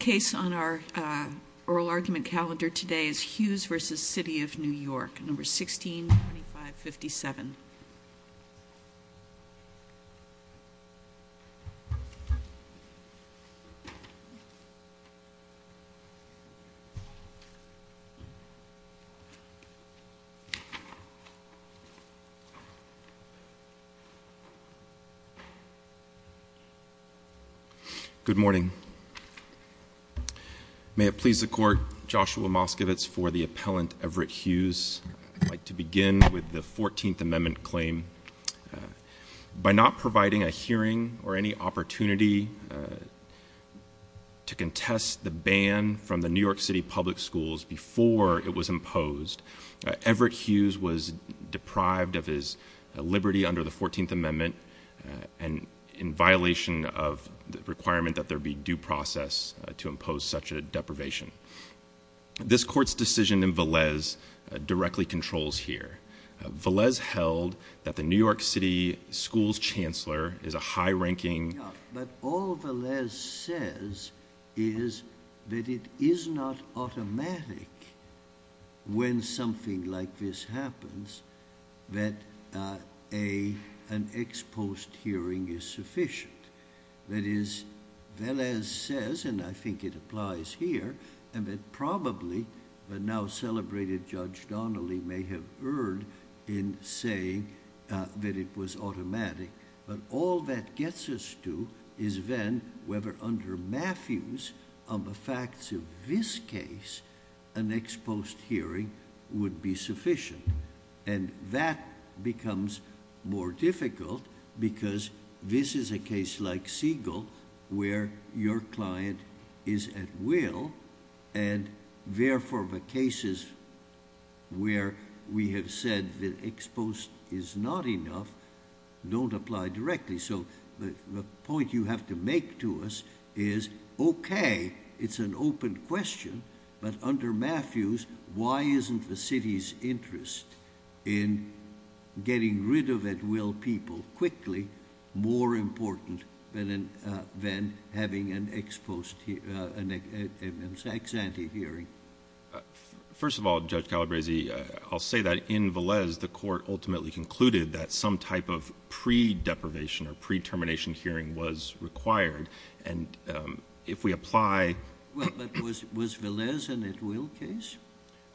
The case on our oral argument calendar today is Hughes v. City of New York, No. 162557. Good morning. May it please the court, Joshua Moskowitz for the appellant Everett Hughes. I'd like to begin with the 14th Amendment claim. By not providing a hearing or any opportunity to contest the ban from the New York City Public Schools before it was imposed, Everett Hughes was deprived of his liberty under the 14th Amendment and in violation of the requirement that there be due process to impose such a deprivation. This court's decision in Velez directly controls here. Velez held that the New York City Schools Chancellor is a high-ranking... But all Velez says is that it is not automatic when something like this happens that an ex post hearing is sufficient. That is, Velez says, and I think it applies here, and that probably the now-celebrated Judge Donnelly may have erred in saying that it was automatic. But all that gets us to is then whether under Matthews, on the facts of this case, an ex post hearing would be sufficient. And that becomes more difficult because this is a case like Siegel where your client is at will, and therefore the cases where we have said that ex post is not enough don't apply directly. So the point you have to make to us is, okay, it's an open question, but under Matthews, why isn't the city's interest in getting rid of at will people quickly more important than having an ex ante hearing? First of all, Judge Calabresi, I'll say that in Velez the court ultimately concluded that some type of pre-deprivation or pre-termination hearing was required. And if we apply... Was Velez an at will case?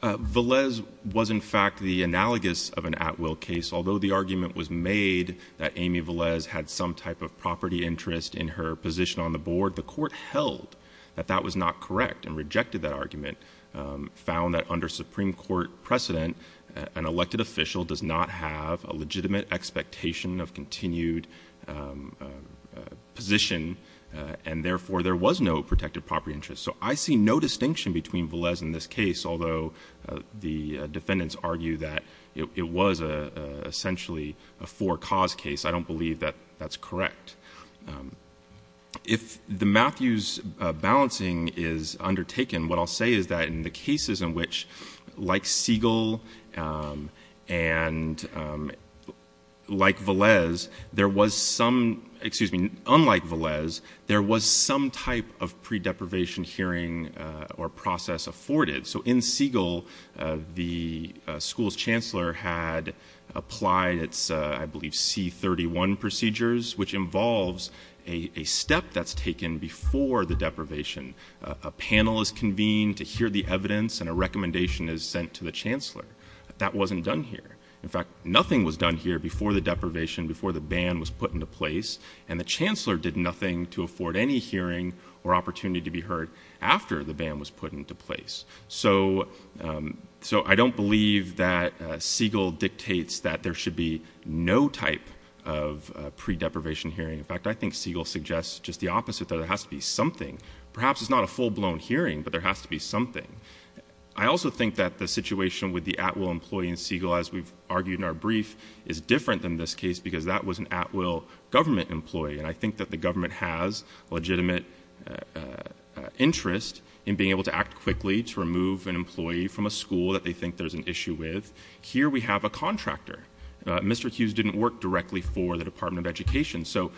Velez was in fact the analogous of an at will case. Although the argument was made that Amy Velez had some type of property interest in her position on the board, the court held that that was not correct and rejected that argument, found that under Supreme Court precedent, an elected official does not have a legitimate expectation of continued position, and therefore there was no protected property interest. So I see no distinction between Velez and this case, although the defendants argue that it was essentially a for cause case. I don't believe that that's correct. If the Matthews balancing is undertaken, what I'll say is that in the cases in which, like Siegel and like Velez, there was some, excuse me, unlike Velez, there was some type of pre-deprivation hearing or process afforded. So in Siegel, the school's chancellor had applied its, I believe, C-31 procedures, which involves a step that's taken before the deprivation. A panel is convened to hear the evidence and a recommendation is sent to the chancellor. That wasn't done here. In fact, nothing was done here before the deprivation, before the ban was put into place, and the chancellor did nothing to afford any hearing or opportunity to be heard after the ban was put into place. So I don't believe that Siegel dictates that there should be no type of pre-deprivation hearing. In fact, I think Siegel suggests just the opposite, that it has to be something. Perhaps it's not a full-blown hearing, but there has to be something. I also think that the situation with the at-will employee in Siegel, as we've argued in our brief, is different than this case because that was an at-will government employee, and I think that the government has legitimate interest in being able to act quickly to remove an employee from a school that they think there's an issue with. Here we have a contractor. Mr. Hughes didn't work directly for the Department of Education, so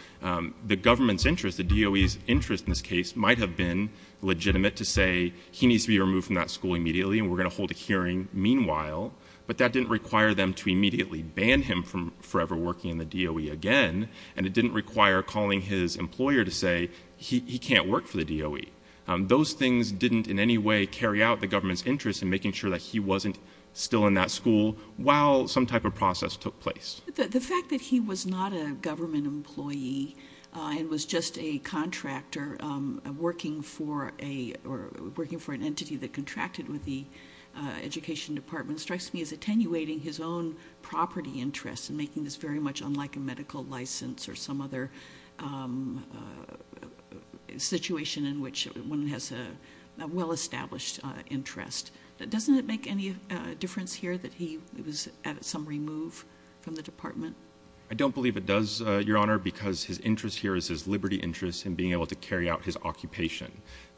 the government's interest, the DOE's interest in this case, might have been legitimate to say, he needs to be removed from that school immediately and we're going to hold a hearing meanwhile, but that didn't require them to immediately ban him from forever working in the DOE again, and it didn't require calling his employer to say he can't work for the DOE. Those things didn't in any way carry out the government's interest in making sure that he wasn't still in that school while some type of process took place. The fact that he was not a government employee and was just a contractor working for an entity that contracted with the Education Department strikes me as attenuating his own property interests and making this very much unlike a medical license or some other situation in which one has a well-established interest. Doesn't it make any difference here that he was at some remove from the department? I don't believe it does, Your Honor, because his interest here is his liberty interest in being able to carry out his occupation.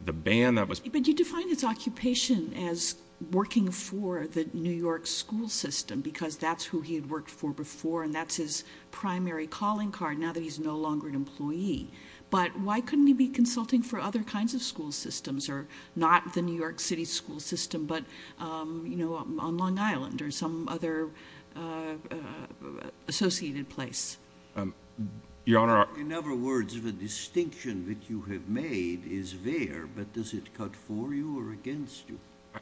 The ban that was- But you define his occupation as working for the New York school system because that's who he had worked for before and that's his primary calling card now that he's no longer an employee. But why couldn't he be consulting for other kinds of school systems or not the New York City school system but on Long Island or some other associated place? Your Honor- In other words, the distinction that you have made is there, but does it cut for you or against you?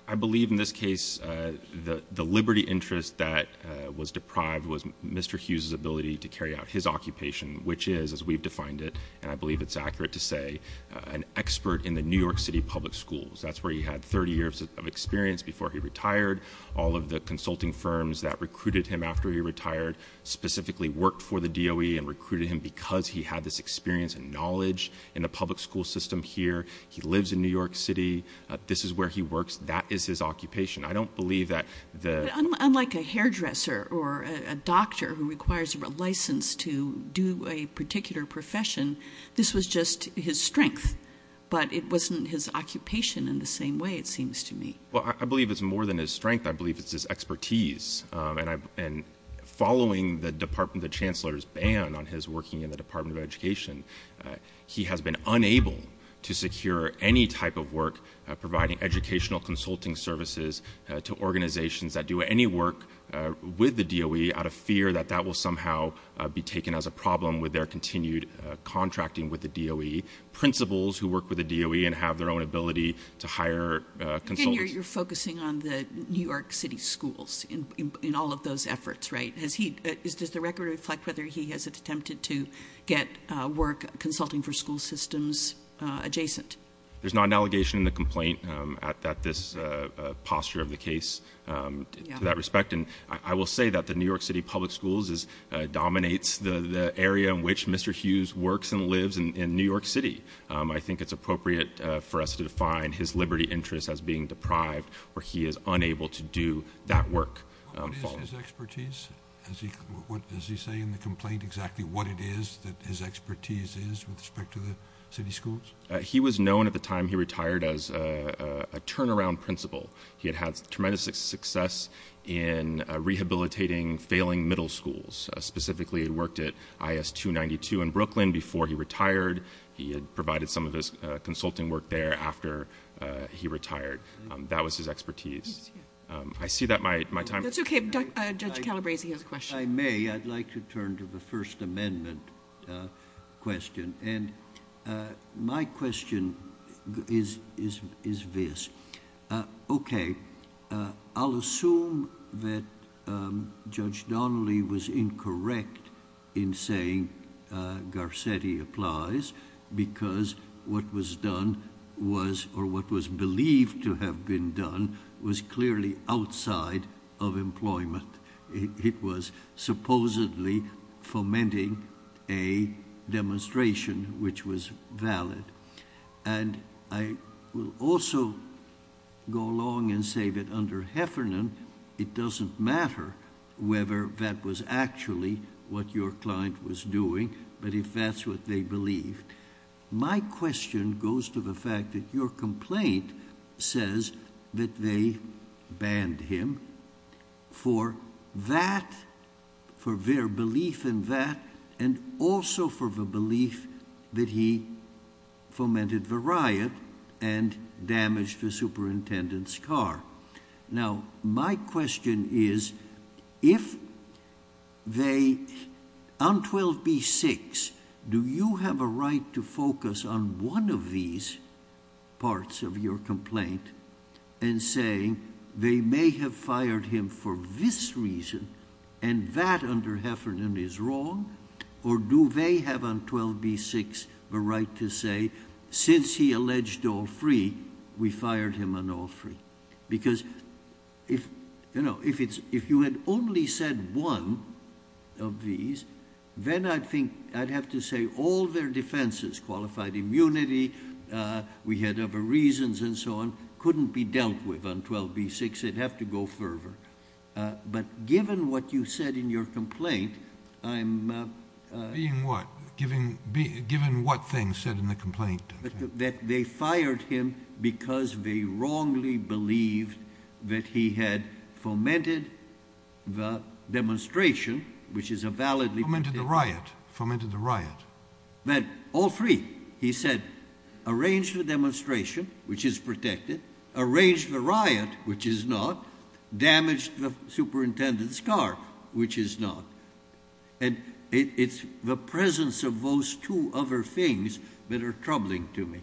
I believe in this case the liberty interest that was deprived was Mr. Hughes' ability to carry out his occupation, which is, as we've defined it, and I believe it's accurate to say, an expert in the New York City public schools. That's where he had 30 years of experience before he retired. All of the consulting firms that recruited him after he retired specifically worked for the DOE and recruited him because he had this experience and knowledge in the public school system here. He lives in New York City. This is where he works. That is his occupation. I don't believe that the- This was just his strength, but it wasn't his occupation in the same way, it seems to me. Well, I believe it's more than his strength. I believe it's his expertise, and following the chancellor's ban on his working in the Department of Education, he has been unable to secure any type of work providing educational consulting services to organizations that do any work with the DOE out of fear that that will somehow be taken as a problem with their continued contracting with the DOE, principals who work with the DOE and have their own ability to hire consultants. You're focusing on the New York City schools in all of those efforts, right? Does the record reflect whether he has attempted to get work consulting for school systems adjacent? There's not an allegation in the complaint at this posture of the case to that respect, and I will say that the New York City public schools dominates the area in which Mr. Hughes works and lives in New York City. I think it's appropriate for us to define his liberty interest as being deprived or he is unable to do that work. What is his expertise? Is he saying in the complaint exactly what it is that his expertise is with respect to the city schools? He was known at the time he retired as a turnaround principal. He had had tremendous success in rehabilitating failing middle schools. Specifically, he worked at IS 292 in Brooklyn before he retired. He had provided some of his consulting work there after he retired. That was his expertise. I see that my time... That's okay. Judge Calabresi has a question. If I may, I'd like to turn to the First Amendment question. My question is this. Okay. I'll assume that Judge Donnelly was incorrect in saying Garcetti applies because what was done was... or what was believed to have been done was clearly outside of employment. It was supposedly fomenting a demonstration, which was valid. I will also go along and say that under Heffernan, it doesn't matter whether that was actually what your client was doing, but if that's what they believed. My question goes to the fact that your complaint says that they banned him for that... for their belief in that and also for the belief that he fomented the riot and damaged the superintendent's car. Now, my question is if they... On 12b-6, do you have a right to focus on one of these parts of your complaint and say they may have fired him for this reason and that under Heffernan is wrong? Or do they have on 12b-6 the right to say since he alleged all three, we fired him on all three? Because if you had only said one of these, then I think I'd have to say all their defenses... qualified immunity, we had other reasons and so on, couldn't be dealt with on 12b-6. It'd have to go further. But given what you said in your complaint, I'm... Being what? Given what thing said in the complaint? That they fired him because they wrongly believed that he had fomented the demonstration, which is a valid... Fomented the riot. Fomented the riot. But all three, he said, arranged the demonstration, which is protected, arranged the riot, which is not, damaged the superintendent's car, which is not. And it's the presence of those two other things that are troubling to me.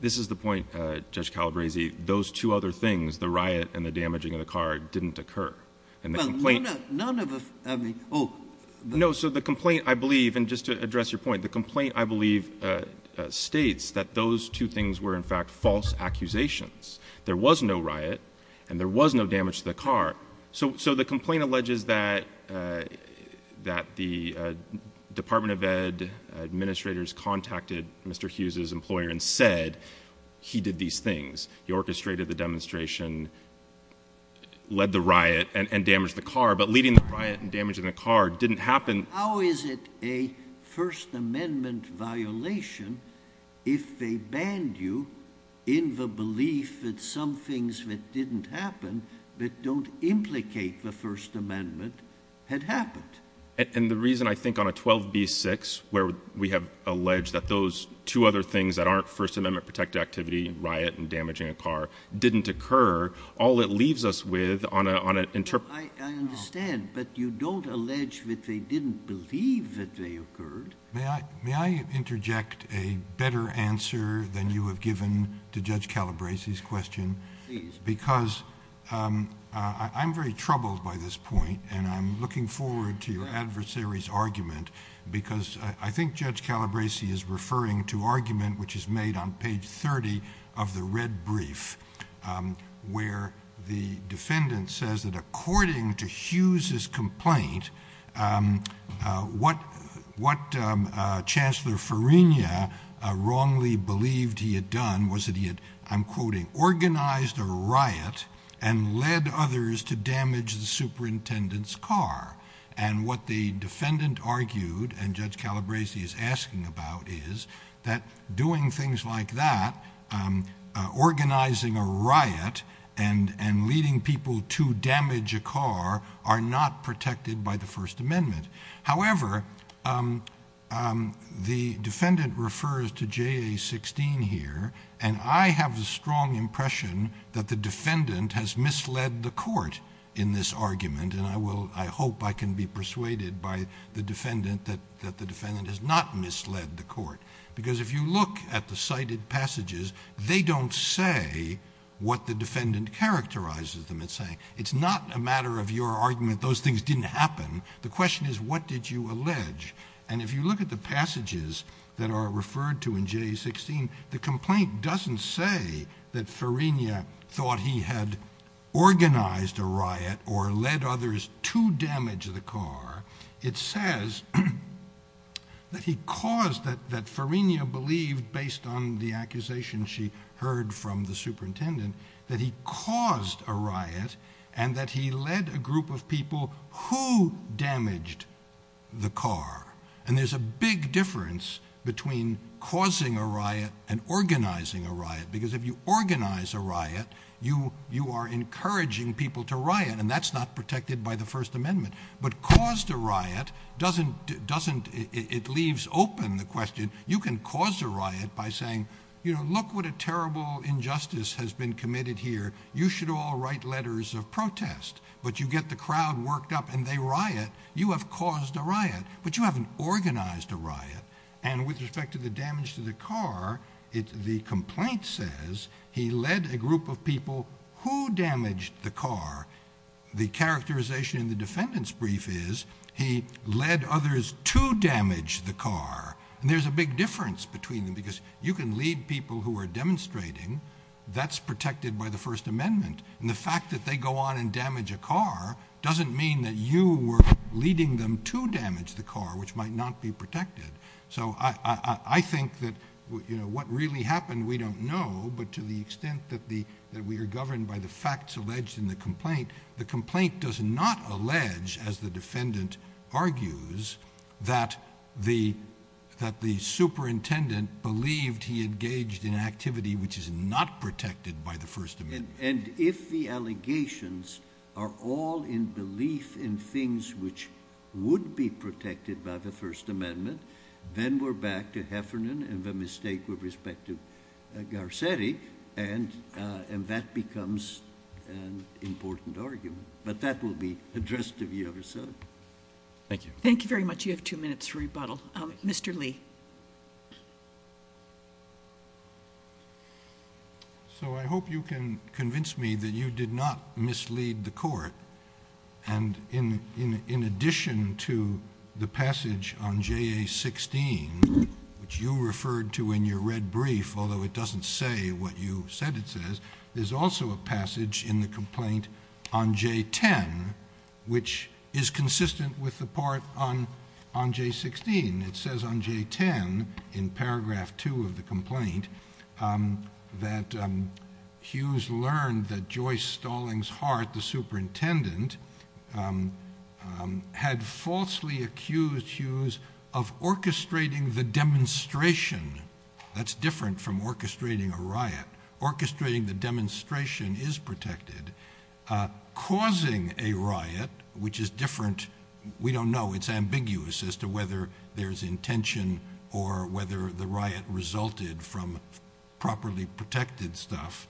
This is the point, Judge Calabresi. Those two other things, the riot and the damaging of the car, didn't occur in the complaint. Well, none of the... I mean, oh... No, so the complaint, I believe, and just to address your point, the complaint, I believe, states that those two things were, in fact, false accusations. There was no riot and there was no damage to the car. So, the complaint alleges that the Department of Ed administrators contacted Mr. Hughes' employer and said he did these things. He orchestrated the demonstration, led the riot and damaged the car. But leading the riot and damaging the car didn't happen... How is it a First Amendment violation if they banned you in the belief that some things that didn't happen, that don't implicate the First Amendment, had happened? And the reason, I think, on a 12b-6, where we have alleged that those two other things that aren't First Amendment protected activity, riot and damaging a car, didn't occur, all it leaves us with on a... Well, I understand, but you don't allege that they didn't believe that they occurred. May I interject a better answer than you have given to Judge Calabresi's question? Please. I'm very troubled by this point and I'm looking forward to your adversary's argument because I think Judge Calabresi is referring to argument which is made on page 30 of the red brief...... wrongly believed he had done was that he had, I'm quoting, organized a riot and led others to damage the superintendent's car. And what the defendant argued and Judge Calabresi is asking about is that doing things like that, organizing a riot and leading people to damage a car, are not protected by the First Amendment. However, the defendant refers to JA-16 here and I have a strong impression that the defendant has misled the court in this argument. And I hope I can be persuaded by the defendant that the defendant has not misled the court. Because if you look at the cited passages, they don't say what the defendant characterizes them as saying. It's not a matter of your argument, those things didn't happen. The question is what did you allege? And if you look at the passages that are referred to in JA-16, the complaint doesn't say that Farina thought he had organized a riot or led others to damage the car. It says that he caused, that Farina believed based on the accusation she heard from the superintendent, that he caused a riot and that he led a group of people who damaged the car. And there's a big difference between causing a riot and organizing a riot. Because if you organize a riot, you are encouraging people to riot and that's not protected by the First Amendment. But caused a riot doesn't, it leaves open the question, you can cause a riot by saying, you know, look what a terrible injustice has been committed here. You should all write letters of protest. But you get the crowd worked up and they riot, you have caused a riot. And with respect to the damage to the car, the complaint says he led a group of people who damaged the car. The characterization in the defendant's brief is he led others to damage the car. And there's a big difference between them because you can lead people who are demonstrating, that's protected by the First Amendment. And the fact that they go on and damage a car doesn't mean that you were leading them to damage the car, which might not be protected. So I think that, you know, what really happened, we don't know. But to the extent that we are governed by the facts alleged in the complaint, the complaint does not allege, as the defendant argues, that the superintendent believed he engaged in activity which is not protected by the First Amendment. And if the allegations are all in belief in things which would be protected by the First Amendment, then we're back to Heffernan and the mistake with respect to Garcetti. And that becomes an important argument. But that will be addressed to the other side. Thank you. Thank you very much. You have two minutes for rebuttal. Mr. Lee. So I hope you can convince me that you did not mislead the court. And in addition to the passage on JA-16, which you referred to in your red brief, although it doesn't say what you said it says, there's also a passage in the complaint on J-10, which is consistent with the part on J-16. It says on J-10, in paragraph two of the complaint, that Hughes learned that Joyce Stallings Hart, the superintendent, had falsely accused Hughes of orchestrating the demonstration. That's different from orchestrating a riot. Orchestrating the demonstration is protected. Causing a riot, which is different. We don't know. It's ambiguous as to whether there's intention or whether the riot resulted from properly protected stuff.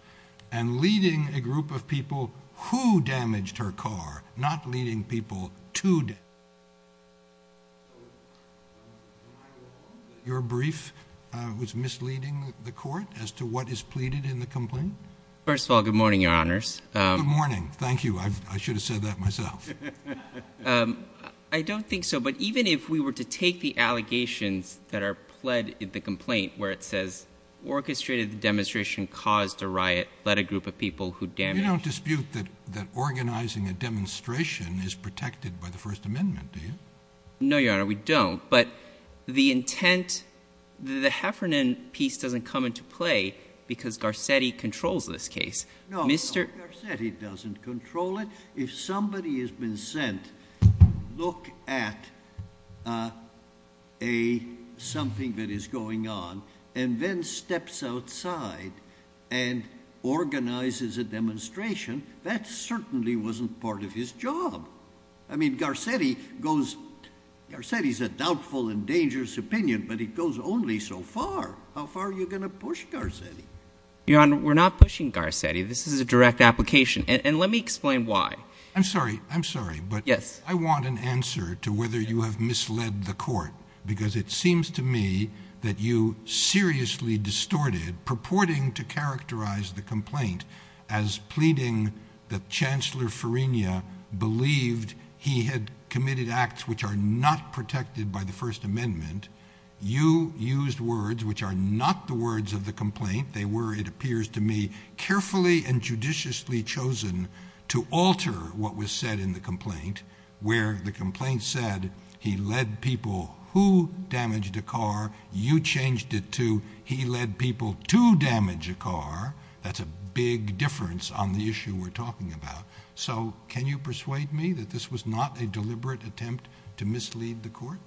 And leading a group of people who damaged her car, not leading people to. Your brief was misleading the court as to what is pleaded in the complaint? First of all, good morning, Your Honors. Good morning. Thank you. I should have said that myself. I don't think so. But even if we were to take the allegations that are pled in the complaint where it says orchestrated the demonstration, caused a riot, led a group of people who damaged. You don't dispute that organizing a demonstration is protected by the First Amendment, do you? No, Your Honor. We don't. But the intent, the Heffernan piece doesn't come into play because Garcetti controls this case. No, Garcetti doesn't control it. If somebody has been sent to look at something that is going on and then steps outside and organizes a demonstration, that certainly wasn't part of his job. I mean Garcetti goes – Garcetti is a doubtful and dangerous opinion, but it goes only so far. How far are you going to push Garcetti? Your Honor, we're not pushing Garcetti. This is a direct application. And let me explain why. I'm sorry. I'm sorry. Yes. I want an answer to whether you have misled the court because it seems to me that you seriously distorted, purporting to characterize the complaint as pleading that Chancellor Farina believed he had committed acts which are not protected by the First Amendment. You used words which are not the words of the complaint. They were, it appears to me, carefully and judiciously chosen to alter what was said in the complaint where the complaint said he led people who damaged a car. You changed it to he led people to damage a car. That's a big difference on the issue we're talking about. So can you persuade me that this was not a deliberate attempt to mislead the court?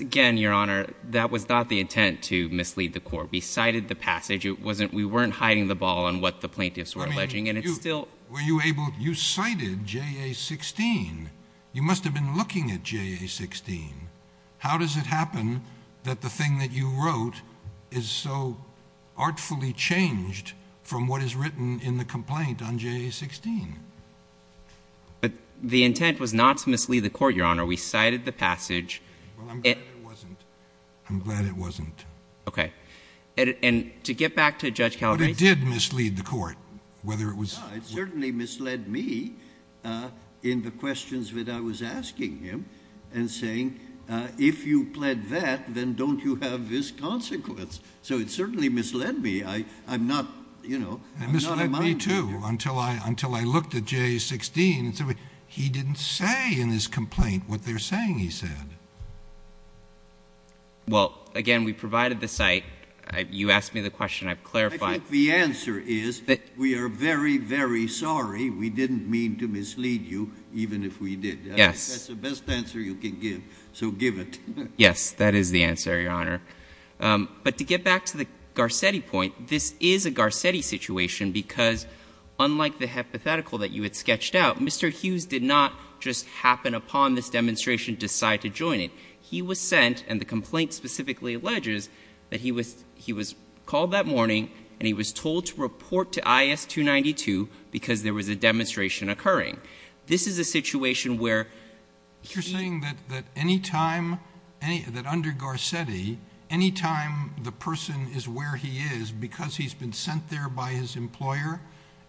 Again, Your Honor, that was not the intent to mislead the court. We cited the passage. We weren't hiding the ball on what the plaintiffs were alleging, and it's still – Were you able – you cited JA-16. You must have been looking at JA-16. How does it happen that the thing that you wrote is so artfully changed from what is written in the complaint on JA-16? But the intent was not to mislead the court, Your Honor. We cited the passage. Well, I'm glad it wasn't. I'm glad it wasn't. Okay. And to get back to Judge Calabrese – But it did mislead the court, whether it was – Yeah, it certainly misled me in the questions that I was asking him and saying, if you pled that, then don't you have this consequence? So it certainly misled me. I'm not, you know – It misled me, too, until I looked at JA-16. He didn't say in his complaint what they're saying he said. Well, again, we provided the site. You asked me the question. I've clarified. The answer is we are very, very sorry. We didn't mean to mislead you, even if we did. Yes. That's the best answer you can give, so give it. Yes, that is the answer, Your Honor. But to get back to the Garcetti point, this is a Garcetti situation because, unlike the hypothetical that you had sketched out, Mr. Hughes did not just happen upon this demonstration, decide to join it. He was sent, and the complaint specifically alleges that he was called that morning and he was told to report to IS-292 because there was a demonstration occurring. This is a situation where – You're saying that any time – that under Garcetti, any time the person is where he is, because he's been sent there by his employer,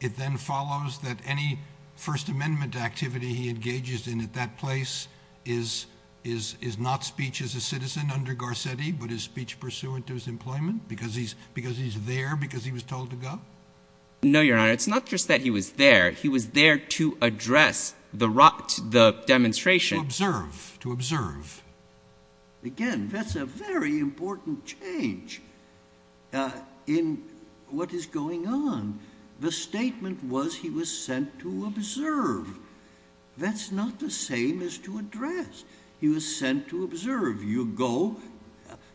it then follows that any First Amendment activity he engages in at that place is not speech as a citizen under Garcetti but is speech pursuant to his employment because he's there because he was told to go? No, Your Honor. It's not just that he was there. He was there to address the demonstration. To observe. To observe. Again, that's a very important change in what is going on. The statement was he was sent to observe. That's not the same as to address. He was sent to observe. You go?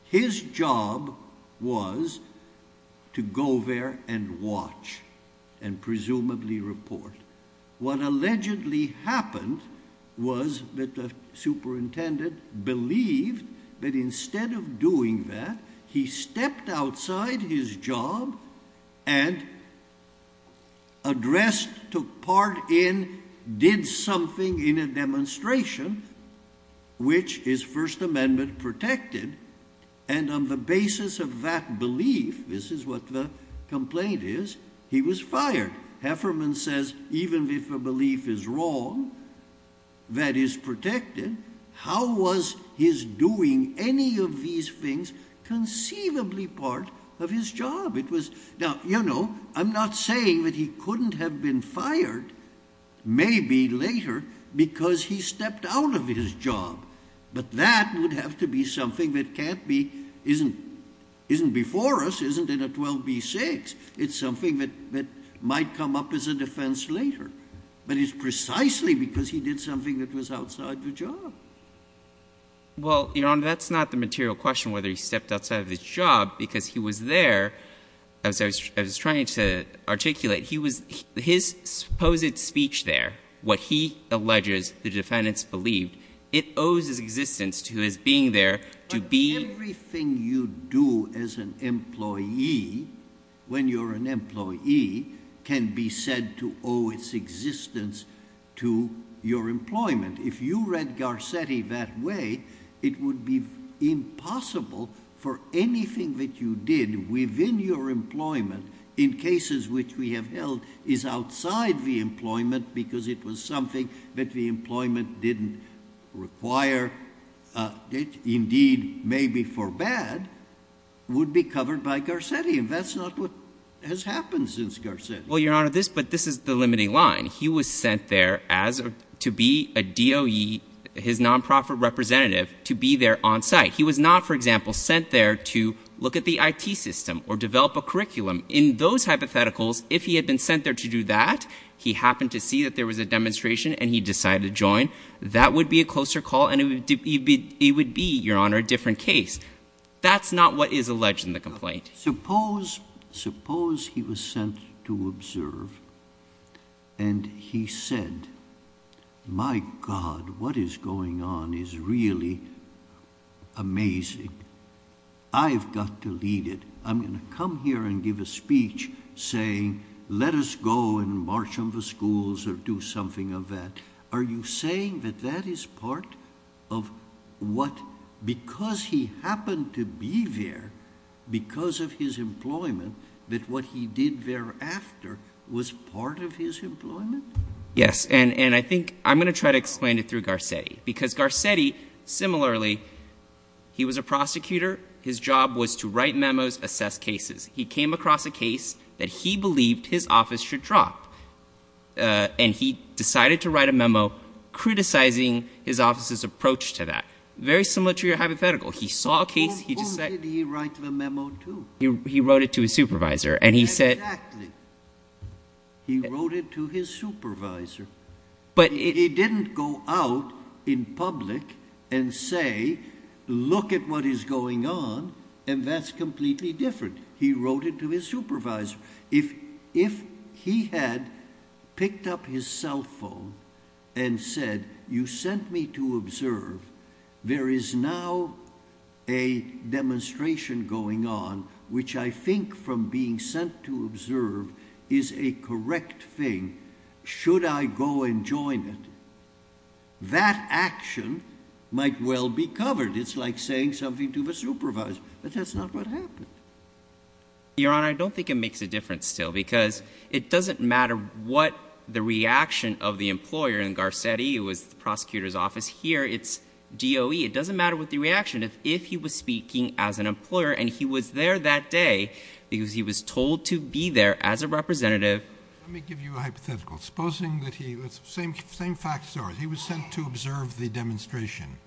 His job was to go there and watch and presumably report. What allegedly happened was that the superintendent believed that instead of doing that, he stepped outside his job and addressed, took part in, did something in a demonstration, which his First Amendment protected, and on the basis of that belief – this is what the complaint is – he was fired. Hefferman says even if a belief is wrong that is protected, how was his doing any of these things conceivably part of his job? Now, you know, I'm not saying that he couldn't have been fired maybe later because he stepped out of his job, but that would have to be something that can't be – isn't before us, isn't in a 12b-6. It's something that might come up as a defense later. But it's precisely because he did something that was outside the job. Well, Your Honor, that's not the material question whether he stepped outside of his job because he was there. As I was trying to articulate, he was – his supposed speech there, what he alleges the defendants believed, it owes its existence to his being there to be – Everything you do as an employee, when you're an employee, can be said to owe its existence to your employment. If you read Garcetti that way, it would be impossible for anything that you did within your employment, in cases which we have held is outside the employment because it was something that the employment didn't require. Indeed, maybe for bad, would be covered by Garcetti, and that's not what has happened since Garcetti. Well, Your Honor, this – but this is the limiting line. He was sent there as – to be a DOE, his nonprofit representative, to be there on site. He was not, for example, sent there to look at the IT system or develop a curriculum. In those hypotheticals, if he had been sent there to do that, he happened to see that there was a demonstration, and he decided to join, that would be a closer call, and it would be, Your Honor, a different case. That's not what is alleged in the complaint. Suppose he was sent to observe, and he said, my God, what is going on is really amazing. I've got to lead it. I'm going to come here and give a speech saying, let us go and march on the schools or do something of that. Are you saying that that is part of what – because he happened to be there because of his employment, that what he did thereafter was part of his employment? Yes, and I think – I'm going to try to explain it through Garcetti because Garcetti, similarly, he was a prosecutor. His job was to write memos, assess cases. He came across a case that he believed his office should drop, and he decided to write a memo criticizing his office's approach to that. Very similar to your hypothetical. He saw a case. Who did he write the memo to? He wrote it to his supervisor, and he said – Exactly. He wrote it to his supervisor. But it didn't go out in public and say, look at what is going on, and that's completely different. He wrote it to his supervisor. If he had picked up his cell phone and said, you sent me to observe, there is now a demonstration going on, which I think from being sent to observe is a correct thing. Should I go and join it? That action might well be covered. It's like saying something to the supervisor. But that's not what happened. Your Honor, I don't think it makes a difference still because it doesn't matter what the reaction of the employer in Garcetti, it was the prosecutor's office. Here, it's DOE. It doesn't matter what the reaction is if he was speaking as an employer and he was there that day because he was told to be there as a representative. Let me give you a hypothetical. Supposing that he – same facts as ours. He was sent to observe the demonstration.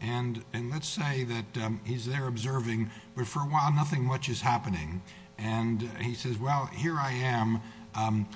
And let's say that he's there observing, but for a while nothing much is happening. And he says, well, here I am. I'm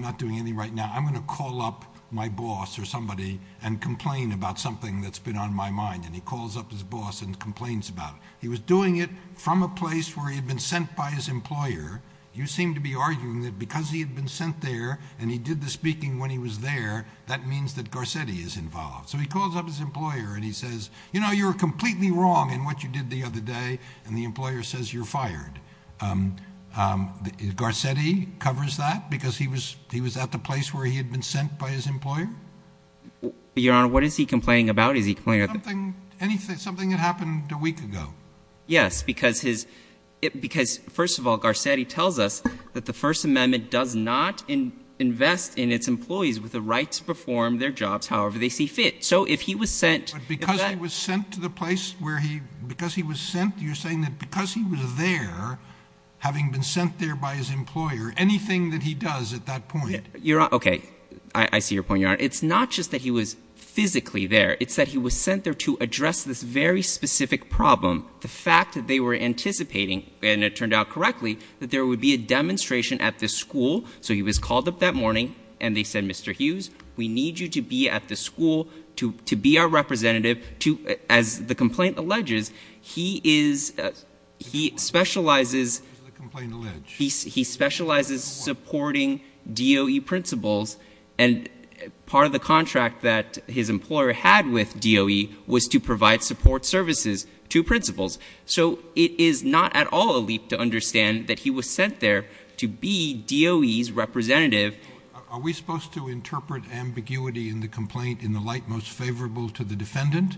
not doing anything right now. I'm going to call up my boss or somebody and complain about something that's been on my mind. And he calls up his boss and complains about it. He was doing it from a place where he had been sent by his employer. You seem to be arguing that because he had been sent there and he did the speaking when he was there, that means that Garcetti is involved. So he calls up his employer and he says, you know, you were completely wrong in what you did the other day. And the employer says you're fired. Garcetti covers that because he was at the place where he had been sent by his employer? Your Honor, what is he complaining about? Is he complaining about – Something that happened a week ago. Yes, because his – because, first of all, Garcetti tells us that the First Amendment does not invest in its employees with the right to perform their jobs however they see fit. So if he was sent – Having been sent there by his employer, anything that he does at that point – Your Honor, okay, I see your point, Your Honor. It's not just that he was physically there. It's that he was sent there to address this very specific problem, the fact that they were anticipating, and it turned out correctly, that there would be a demonstration at the school. So he was called up that morning, and they said, Mr. Hughes, we need you to be at the school to be our representative. As the complaint alleges, he is – he specializes – What does the complaint allege? He specializes supporting DOE principals, and part of the contract that his employer had with DOE was to provide support services to principals. So it is not at all a leap to understand that he was sent there to be DOE's representative. Are we supposed to interpret ambiguity in the complaint in the light most favorable to the defendant?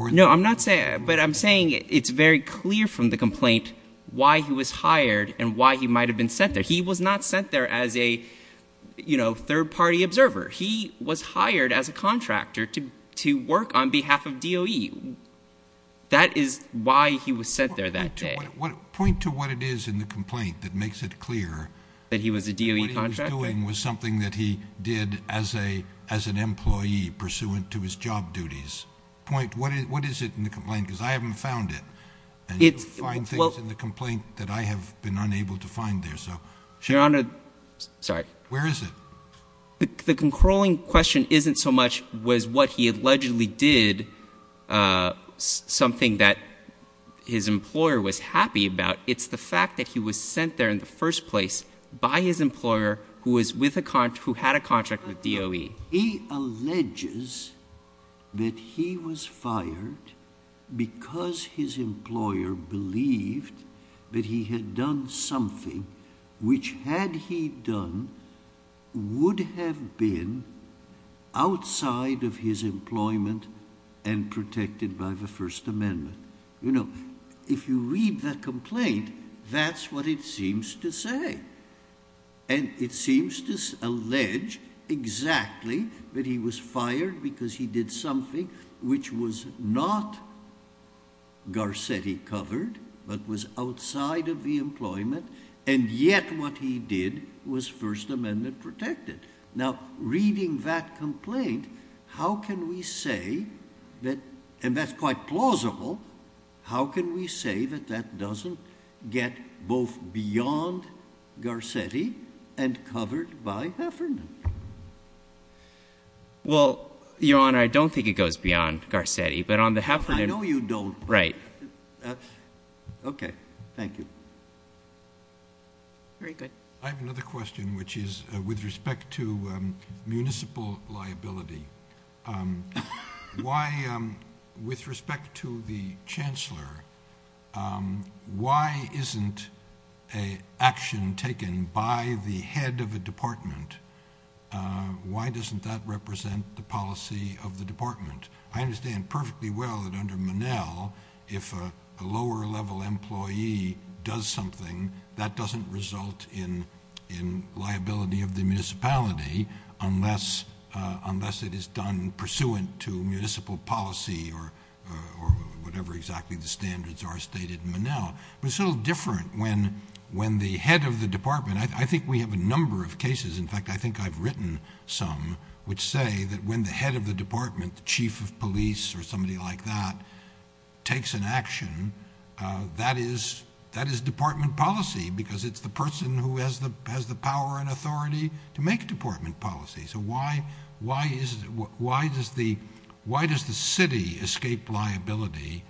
No, I'm not saying – but I'm saying it's very clear from the complaint why he was hired and why he might have been sent there. He was not sent there as a third-party observer. He was hired as a contractor to work on behalf of DOE. That is why he was sent there that day. Point to what it is in the complaint that makes it clear. That he was a DOE contractor? What he was doing was something that he did as an employee pursuant to his job duties. Point – what is it in the complaint, because I haven't found it. And you find things in the complaint that I have been unable to find there. Your Honor – sorry. Where is it? The controlling question isn't so much was what he allegedly did something that his employer was happy about. It's the fact that he was sent there in the first place by his employer who was with a – who had a contract with DOE. He alleges that he was fired because his employer believed that he had done something which, had he done, would have been outside of his employment and protected by the First Amendment. You know, if you read the complaint, that's what it seems to say. And it seems to allege exactly that he was fired because he did something which was not Garcetti covered, but was outside of the employment. And yet what he did was First Amendment protected. Now, reading that complaint, how can we say that – and that's quite plausible – how can we say that that doesn't get both beyond Garcetti and covered by Heffernan? Well, Your Honor, I don't think it goes beyond Garcetti. But on the Heffernan – I know you don't. Right. Okay. Thank you. Very good. I have another question, which is with respect to municipal liability. Why – with respect to the chancellor, why isn't an action taken by the head of a department? Why doesn't that represent the policy of the department? I understand perfectly well that under Monell, if a lower-level employee does something, that doesn't result in liability of the municipality unless it is done pursuant to municipal policy or whatever exactly the standards are stated in Monell. But it's a little different when the head of the department – I think we have a number of cases. In fact, I think I've written some which say that when the head of the department, the chief of police or somebody like that, takes an action, that is department policy because it's the person who has the power and authority to make department policy. So why does the city escape liability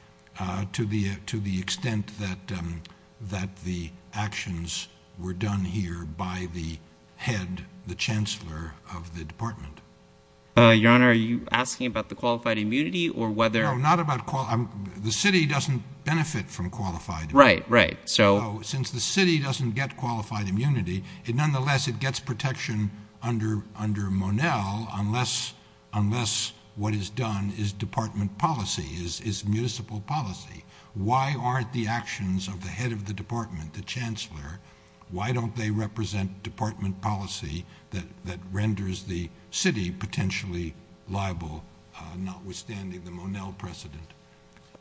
to the extent that the actions were done here by the head, the chancellor of the department? Your Honor, are you asking about the qualified immunity or whether – No, not about – the city doesn't benefit from qualified immunity. Right, right. So – Under Monell, unless what is done is department policy, is municipal policy, why aren't the actions of the head of the department, the chancellor, why don't they represent department policy that renders the city potentially liable notwithstanding the Monell precedent?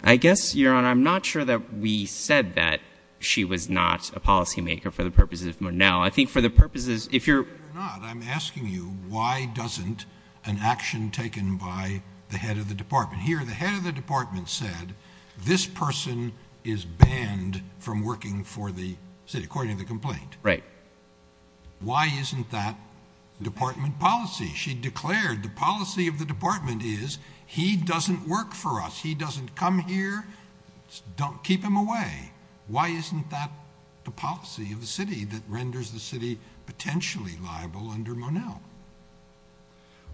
I guess, Your Honor, I'm not sure that we said that she was not a policymaker for the purposes of Monell. I think for the purposes – if you're – Why doesn't an action taken by the head of the department – here, the head of the department said, this person is banned from working for the city, according to the complaint. Right. Why isn't that department policy? She declared the policy of the department is he doesn't work for us. He doesn't come here. Keep him away. Why isn't that the policy of the city that renders the city potentially liable under Monell?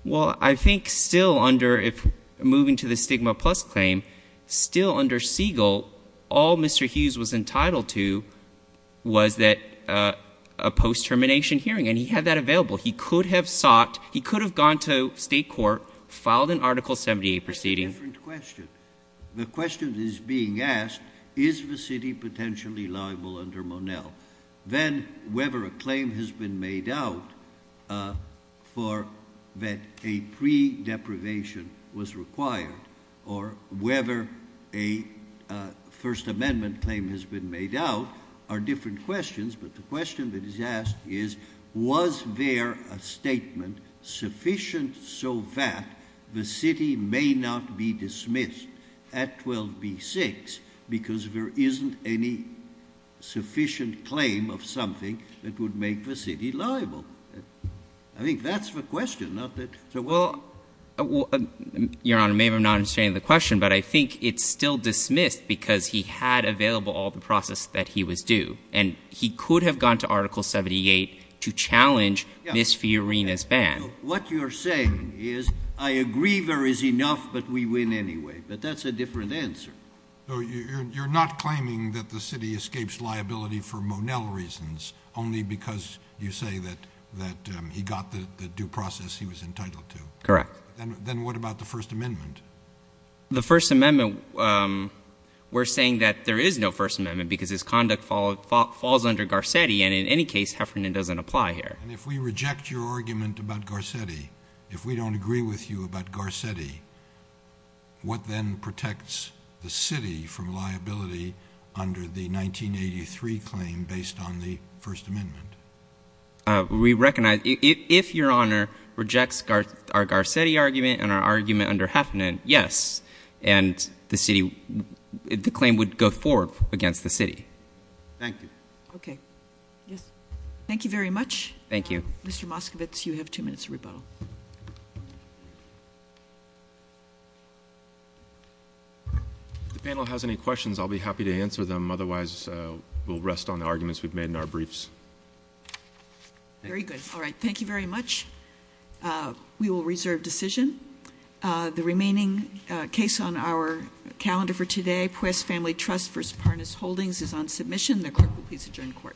Well, I think still under – moving to the Stigma Plus claim, still under Siegel, all Mr. Hughes was entitled to was that – a post-termination hearing, and he had that available. He could have sought – he could have gone to state court, filed an Article 78 proceeding. The question that is being asked, is the city potentially liable under Monell? Then whether a claim has been made out for – that a pre-deprivation was required, or whether a First Amendment claim has been made out, are different questions. But the question that is asked is, was there a statement sufficient so that the city may not be dismissed at 12b-6 because there isn't any sufficient claim of something that would make the city liable? I think that's the question, not that – Well, Your Honor, maybe I'm not understanding the question, but I think it's still dismissed because he had available all the process that he was due, and he could have gone to Article 78 to challenge Ms. Fiorina's ban. What you're saying is, I agree there is enough, but we win anyway. But that's a different answer. So you're not claiming that the city escapes liability for Monell reasons, only because you say that he got the due process he was entitled to? Correct. Then what about the First Amendment? The First Amendment – we're saying that there is no First Amendment because his conduct falls under Garcetti, and in any case, Heffernan doesn't apply here. And if we reject your argument about Garcetti, if we don't agree with you about Garcetti, what then protects the city from liability under the 1983 claim based on the First Amendment? We recognize – if Your Honor rejects our Garcetti argument and our argument under Heffernan, yes, and the city – the claim would go forward against the city. Thank you. Okay. Yes. Thank you very much. Thank you. Mr. Moskovitz, you have two minutes of rebuttal. If the panel has any questions, I'll be happy to answer them. Otherwise, we'll rest on the arguments we've made in our briefs. Very good. All right. Thank you very much. We will reserve decision. The remaining case on our calendar for today, Puest Family Trust v. Parness Holdings, is on submission. The court will please adjourn the court. Court is adjourned.